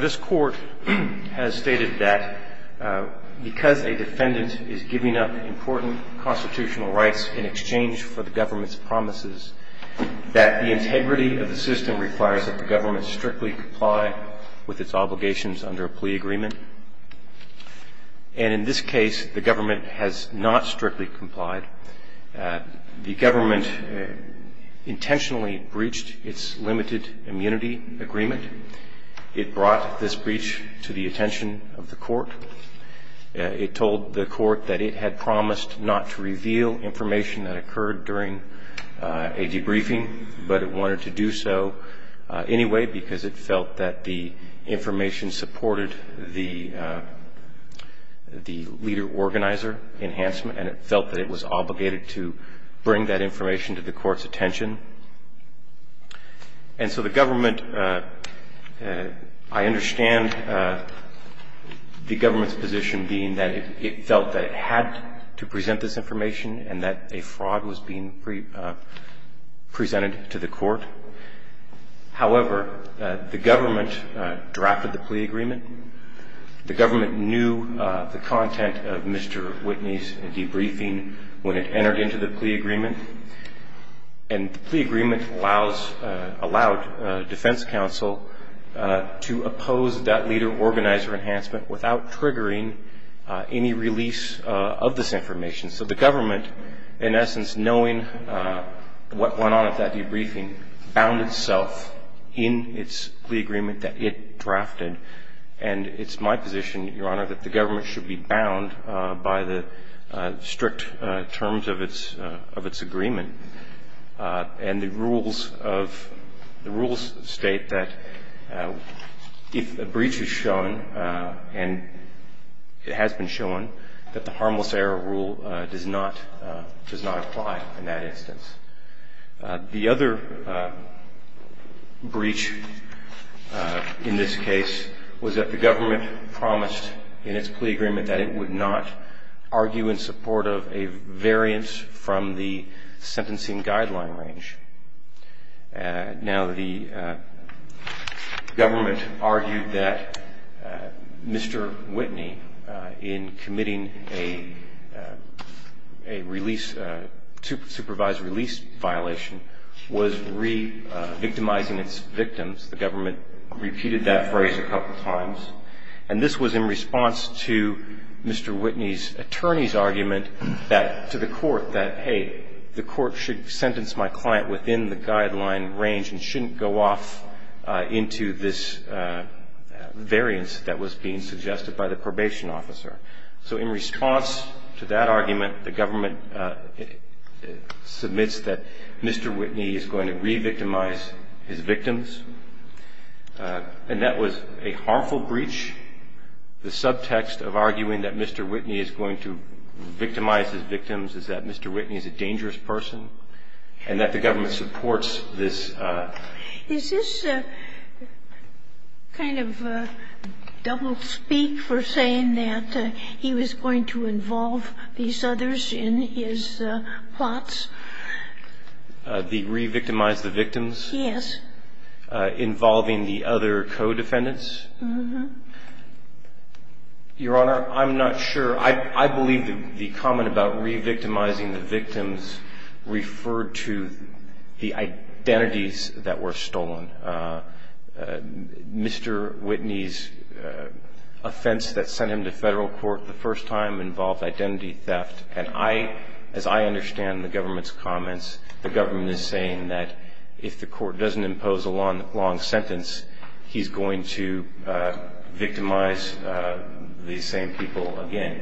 This Court has stated that because a defendant is giving up important constitutional rights in exchange for the government's promises, that the integrity of the system requires that the government strictly comply with its obligations under a plea agreement. In this case, the government intentionally breached its limited immunity agreement. It brought this breach to the attention of the court. It told the court that it had promised not to reveal information that occurred during a debriefing, but it wanted to do so anyway because it felt that the information supported the leader-organizer enhancement and it felt that it was obligated to bring that information to the court's attention. And so the government – I understand the government's position being that it felt that it had to present this information and that a fraud was being presented to the court. However, the government drafted the plea agreement. The government knew the content of Mr. Whitney's debriefing when it entered into the plea agreement. And the plea agreement allowed defense counsel to oppose that leader-organizer enhancement without triggering any release of this information. So the government, in essence, knowing what went on at that debriefing, bound itself in its plea agreement that it drafted. And it's my position, Your Honor, that the government should be bound by the strict terms of its agreement. And the rules state that if a breach is shown and it has been shown, that the harmless error rule does not apply in that instance. The other breach in this case was that the government promised in its plea agreement that it would not argue in support of a variance from the sentencing guideline range. Now, the government argued that Mr. Whitney, in committing a supervised release violation, was re-victimizing its victims. The government repeated that phrase a couple of times. And this was in response to Mr. Whitney's attorney's argument to the court that, hey, the court should sentence my client within the guideline range and shouldn't go off into this variance that was being suggested by the probation officer. So in response to that argument, the government submits that Mr. Whitney is going to re-victimize his victims. And that was a harmful breach. The subtext of arguing that Mr. Whitney is going to re-victimize his victims is that Mr. Whitney is a dangerous person and that the government supports this. Sotomayor Is this kind of a double speak for saying that he was going to involve these others in his plots? Waxman The re-victimize the victims? Sotomayor Yes. Waxman Involving the other co-defendants? Sotomayor Uh-huh. Waxman Your Honor, I'm not sure. I believe the comment about re-victimizing the victims referred to the identities that were stolen. Mr. Whitney's offense that sent him to federal court the first time involved identity theft. And I, as I understand the government's comments, the government is saying that if the court doesn't impose a long sentence, he's going to victimize these same people again.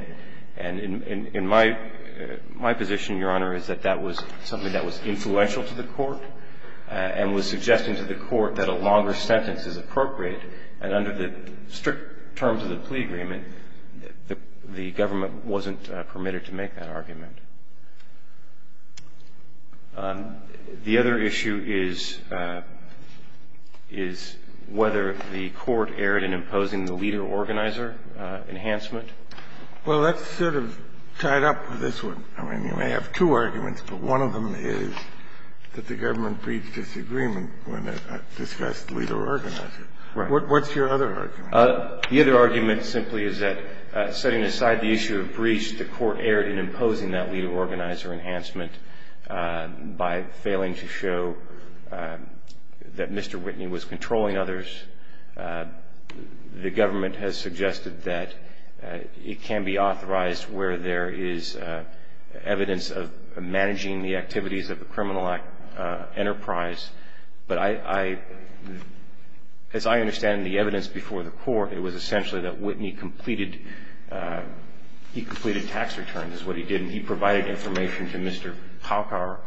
And in my position, Your Honor, is that that was something that was influential to the court and was suggesting to the court that a longer sentence is appropriate. And under the strict terms of the plea agreement, the government wasn't permitted to make that argument. The other issue is whether the court erred in imposing the leader-organizer enhancement. Kennedy Well, that's sort of tied up with this one. I mean, you may have two arguments, but one of them is that the government breached this agreement when it discussed leader-organizer. What's your other argument? Waxman The other argument simply is that setting aside the issue of breach, the court erred in imposing that leader-organizer enhancement by failing to show that Mr. Whitney was controlling others. The government has suggested that it can be authorized where there is evidence of managing the activities of a criminal enterprise. But I, as I understand the evidence before the court, it was Waxman's concern is what he did. And he provided information to Mr. Palkar,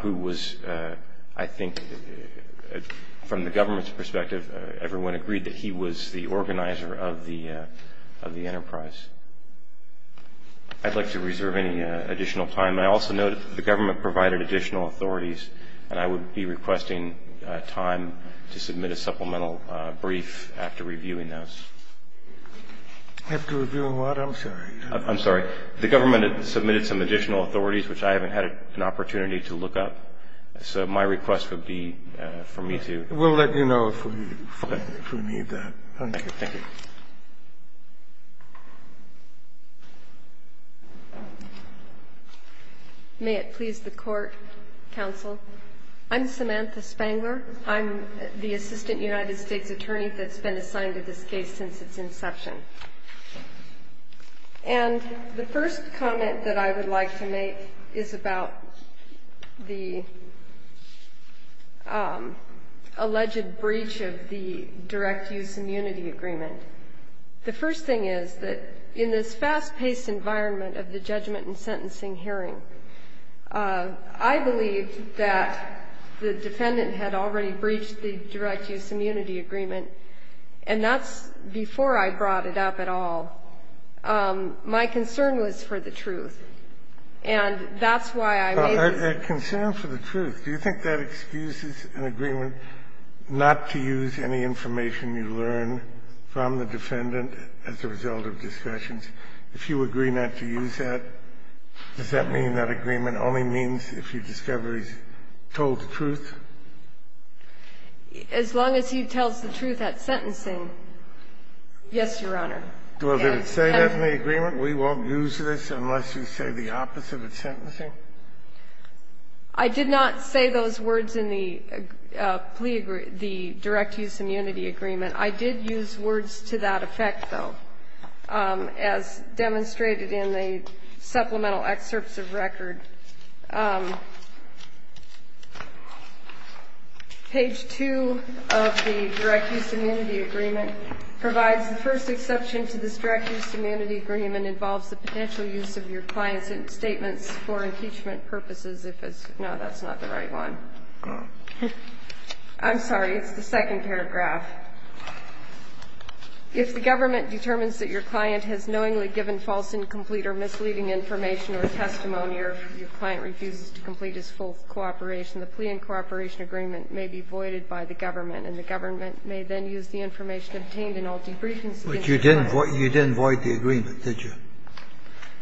who was, I think, from the government's perspective, everyone agreed that he was the organizer of the enterprise. I'd like to reserve any additional time. I also note that the government provided additional authorities, and I would be requesting time to submit a supplemental brief after reviewing those. Scalia After reviewing what? I'm sorry. The government submitted some additional authorities, which I haven't had an opportunity to look up. So my request would be for me to do that. Scalia We'll let you know if we need that. Waxman Thank you. May it please the Court, counsel. I'm Samantha Spangler. I'm the assistant United States attorney that's been assigned to this case since its inception. And the first comment that I would like to make is about the alleged breach of the direct use immunity agreement. The first thing is that in this fast-paced environment of the judgment and sentencing hearing, I believe that the defendant had already breached the and that the defendant had not brought it up at all. My concern was for the truth, and that's why I raised this. Kennedy A concern for the truth? Do you think that excuses an agreement not to use any information you learn from the defendant as a result of discussions? If you agree not to use that, does that mean that agreement only means if you discover he's told the truth? Spangler As long as he tells the truth at sentencing, yes, Your Honor. Kennedy Well, did it say that in the agreement? We won't use this unless you say the opposite at sentencing? Spangler I did not say those words in the plea agreement, the direct use immunity agreement. I did use words to that effect, though, as demonstrated in the supplemental excerpts of record. Page 2 of the direct use immunity agreement provides the first exception to this direct use immunity agreement involves the potential use of your client's statements for impeachment purposes, if it's no, that's not the right one. I'm sorry, it's the second paragraph. If the government determines that your client has knowingly given false, incomplete or misleading information or testimony or your client refuses to complete his full cooperation, the plea and cooperation agreement may be voided by the government, and the government may then use the information obtained in all debriefings. Kennedy But you didn't void the agreement, did you? Spangler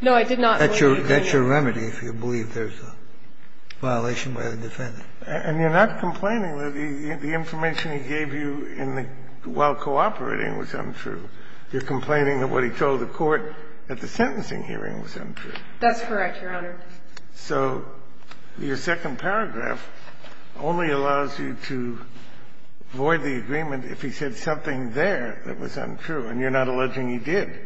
No, I did not void the agreement. That's your remedy if you believe there's a violation by the defendant. Kennedy And you're not complaining that the information he gave you in the while cooperating was untrue. You're complaining that what he told the court at the sentencing hearing was untrue. Spangler That's correct, Your Honor. Kennedy So your second paragraph only allows you to void the agreement if he said something there that was untrue, and you're not alleging he did. Spangler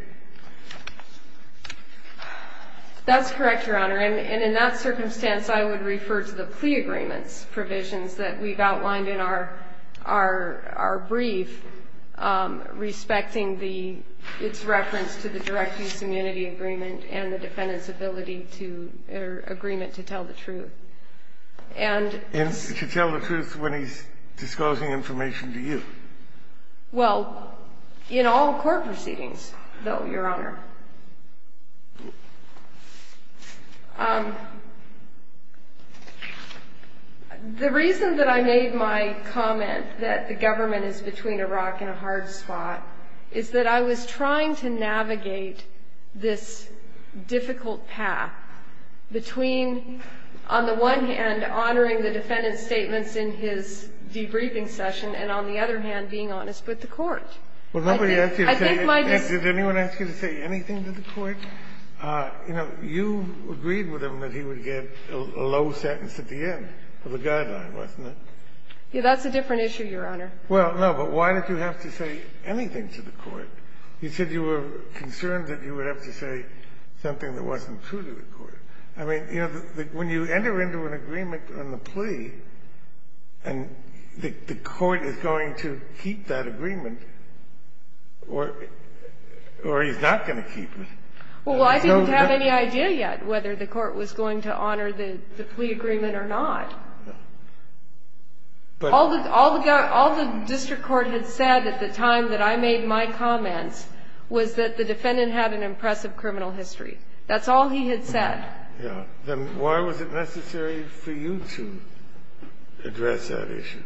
That's correct, Your Honor. And in that circumstance, I would refer to the plea agreement's provisions that we've outlined in our brief respecting its reference to the direct use immunity agreement and the defendant's ability to or agreement to tell the truth. And Kennedy And to tell the truth when he's disclosing information to you. Spangler Well, in all court proceedings, though, Your Honor. The reason that I made my comment that the government is between a rock and a hard spot is that I was trying to navigate this difficult path between, on the one hand, honoring the defendant's statements in his debriefing session and, on the other hand, being honest with the court. Kennedy Well, nobody asked you to say anything. Did anyone ask you to say anything to the court? You know, you agreed with him that he would get a low sentence at the end of the guideline, wasn't it? Spangler That's a different issue, Your Honor. Kennedy Well, no, but why did you have to say anything to the court? You said you were concerned that you would have to say something that wasn't true to the court. I mean, you know, when you enter into an agreement on the plea and the court is going to keep that agreement or he's not going to keep it. Spangler Well, I didn't have any idea yet whether the court was going to honor the plea agreement or not. All the district court had said at the time that I made my comments was that the defendant had an impressive criminal history. That's all he had said. Kennedy Yeah. Then why was it necessary for you to address that issue?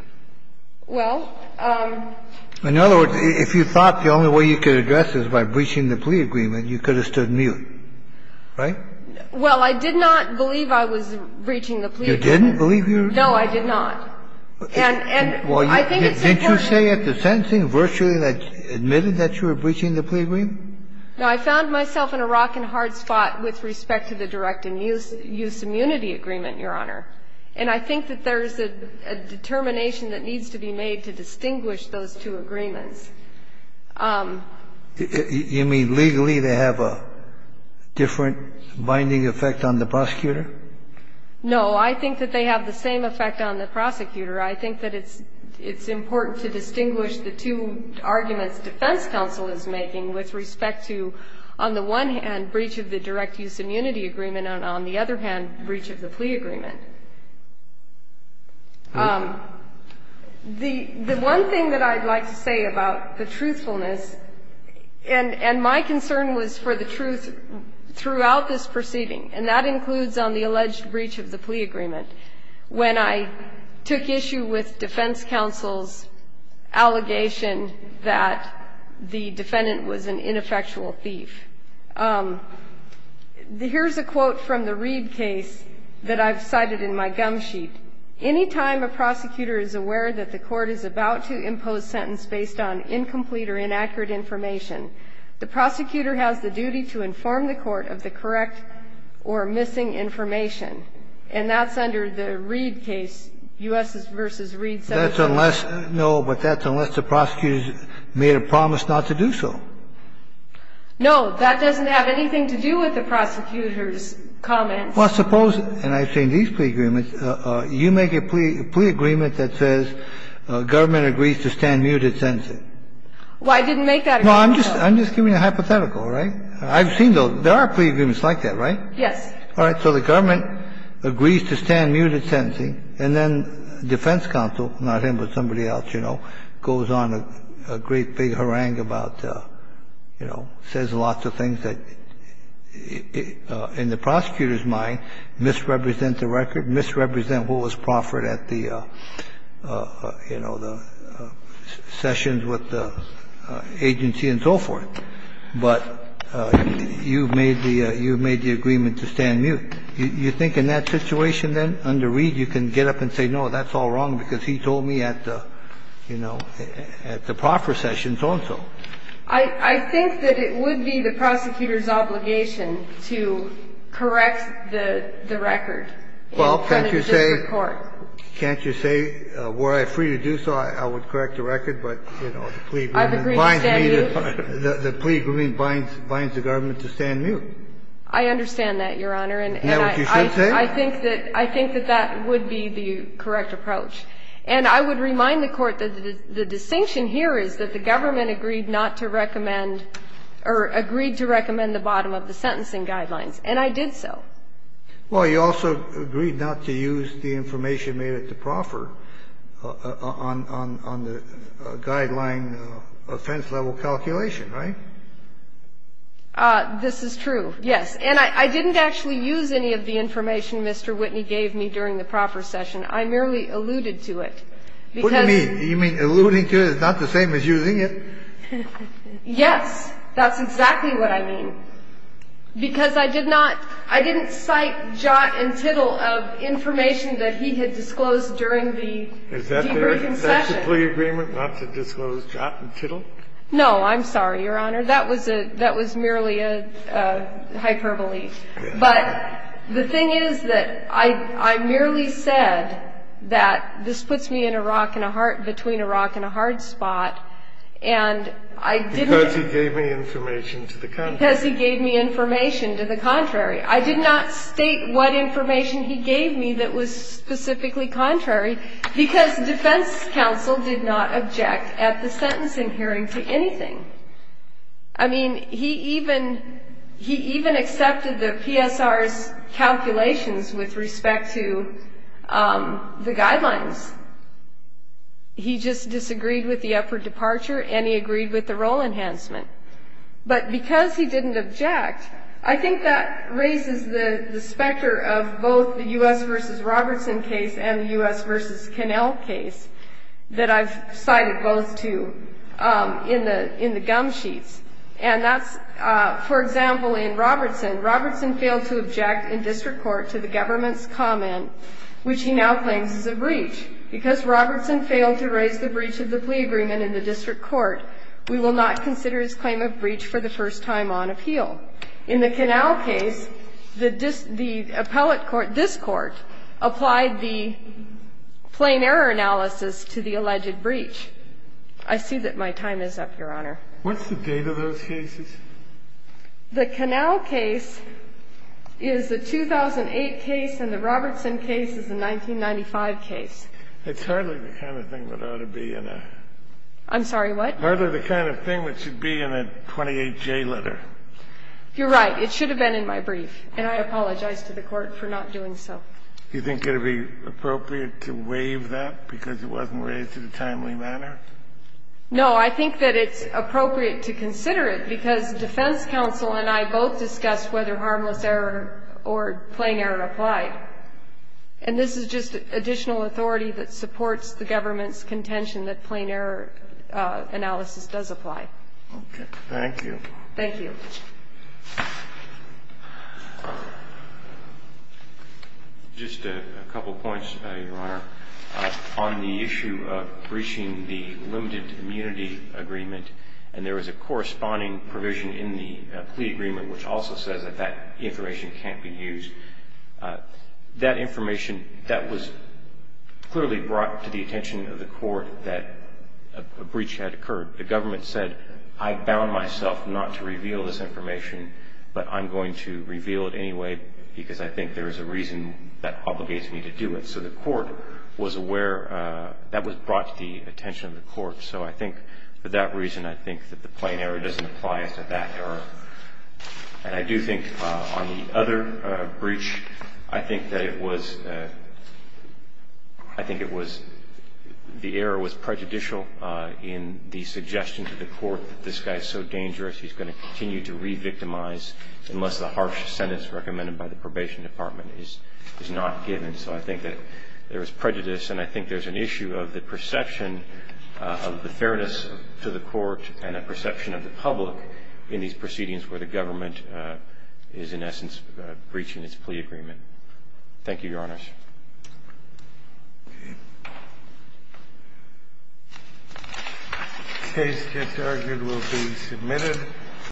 Spangler Well, um. Kennedy In other words, if you thought the only way you could address it is by breaching the plea agreement, you could have stood mute, right? Spangler Well, I did not believe I was breaching the plea agreement. Kennedy You didn't believe you were? Spangler No, I did not. And I think it's important. Kennedy Didn't you say at the sentencing virtually that you admitted that you were breaching the plea agreement? Spangler No, I found myself in a rock and hard spot with respect to the direct and use immunity agreement, Your Honor. And I think that there is a determination that needs to be made to distinguish those two agreements. Kennedy You mean legally they have a different binding effect on the prosecutor? Spangler No, I think that they have the same effect on the prosecutor. I think that it's important to distinguish the two arguments defense counsel is making with respect to, on the one hand, breach of the direct use immunity agreement and on the other hand, breach of the plea agreement. The one thing that I'd like to say about the truthfulness, and my concern was for the truth throughout this proceeding, and that includes on the alleged breach of the plea agreement. When I took issue with defense counsel's allegation that the defendant was an ineffectual thief. Here's a quote from the Reid case that I've cited in my gum sheet. Any time a prosecutor is aware that the court is about to impose sentence based on incomplete or inaccurate information, the prosecutor has the duty to inform the court of the correct or missing information. And that's under the Reid case, U.S. versus Reid. Kennedy That's unless, no, but that's unless the prosecutor made a promise not to do so. Spangler No, that doesn't have anything to do with the prosecutor's comments. Kennedy Well, suppose, and I've seen these plea agreements, you make a plea agreement that says government agrees to stand muted sentencing. Spangler Well, I didn't make that agreement, though. Kennedy No, I'm just giving a hypothetical, right? I've seen, though, there are plea agreements like that, right? Spangler Yes. Kennedy All right. So the government agrees to stand muted sentencing. And then defense counsel, not him, but somebody else, you know, goes on a great big harangue about, you know, says lots of things that, in the prosecutor's mind, misrepresent the record, misrepresent what was proffered at the, you know, the sessions with the agency and so forth. But you've made the, you've made the agreement to stand mute. You think in that situation, then, under Reed, you can get up and say, no, that's all wrong because he told me at the, you know, at the proffer sessions also. Spangler I think that it would be the prosecutor's obligation to correct the record in front of the district court. Kennedy Well, can't you say, can't you say, were I free to do so, I would correct the record, but, you know, the plea agreement. The plea agreement binds the government to stand mute. Spangler I understand that, Your Honor. Kennedy Is that what you should say? Spangler I think that that would be the correct approach. And I would remind the Court that the distinction here is that the government agreed not to recommend, or agreed to recommend the bottom of the sentencing guidelines, and I did so. Kennedy Well, you also agreed not to use the information made at the proffer on the guideline offense level calculation, right? Spangler This is true, yes. And I didn't actually use any of the information Mr. Whitney gave me during the proffer session. I merely alluded to it. Kennedy What do you mean? You mean alluding to it is not the same as using it? Spangler Yes. That's exactly what I mean. Because I did not, I didn't cite jot and tittle of information that he had disclosed during the deep reconcession. Kennedy Was that a plea agreement not to disclose jot and tittle? Spangler No. I'm sorry, Your Honor. That was merely a hyperbole. But the thing is that I merely said that this puts me in a rock and a hard, between a rock and a hard spot, and I didn't Kennedy Because he gave me information to the contrary. Spangler Because he gave me information to the contrary. I did not state what information he gave me that was specifically contrary, because defense counsel did not object at the sentencing hearing to anything. I mean, he even, he even accepted the PSR's calculations with respect to the guidelines. He just disagreed with the upward departure and he agreed with the role enhancement. But because he didn't object, I think that raises the specter of both the Robertson v. Cannell case that I've cited both to in the gum sheets. And that's, for example, in Robertson. Robertson failed to object in district court to the government's comment, which he now claims is a breach. Because Robertson failed to raise the breach of the plea agreement in the district court, we will not consider his claim of breach for the first time on appeal. In the Cannell case, the appellate court, this court, applied the plain error analysis to the alleged breach. I see that my time is up, Your Honor. Kennedy What's the date of those cases? Spangler The Cannell case is the 2008 case and the Robertson case is the 1995 case. Kennedy It's hardly the kind of thing that ought to be in a... Spangler I'm sorry, what? Kennedy Hardly the kind of thing that should be in a 28J letter. Spangler You're right. It should have been in my brief. And I apologize to the Court for not doing so. Kennedy Do you think it would be appropriate to waive that because it wasn't raised in a timely manner? Spangler No. I think that it's appropriate to consider it because defense counsel and I both discussed whether harmless error or plain error applied. And this is just additional authority that supports the government's contention that plain error analysis does apply. Kennedy Okay. Thank you. Spangler Just a couple points, Your Honor. On the issue of breaching the limited immunity agreement, and there was a corresponding provision in the plea agreement which also says that that information can't be used. That information, that was clearly brought to the attention of the Court that a breach had occurred. The government said, I bound myself not to use that information. I'm bound not to reveal this information, but I'm going to reveal it anyway because I think there is a reason that obligates me to do it. So the Court was aware, that was brought to the attention of the Court. So I think for that reason, I think that the plain error doesn't apply as to that error. And I do think on the other breach, I think that it was, I think it was, the error was prejudicial in the suggestion to the Court that this guy is so guilty that he's going to continue to re-victimize unless the harsh sentence recommended by the Probation Department is not given. So I think that there was prejudice, and I think there's an issue of the perception of the fairness to the Court and a perception of the public in these proceedings where the government is, in essence, breaching its plea agreement. Thank you, Your Honors. Thank you very much. The case to be adjourned will be submitted.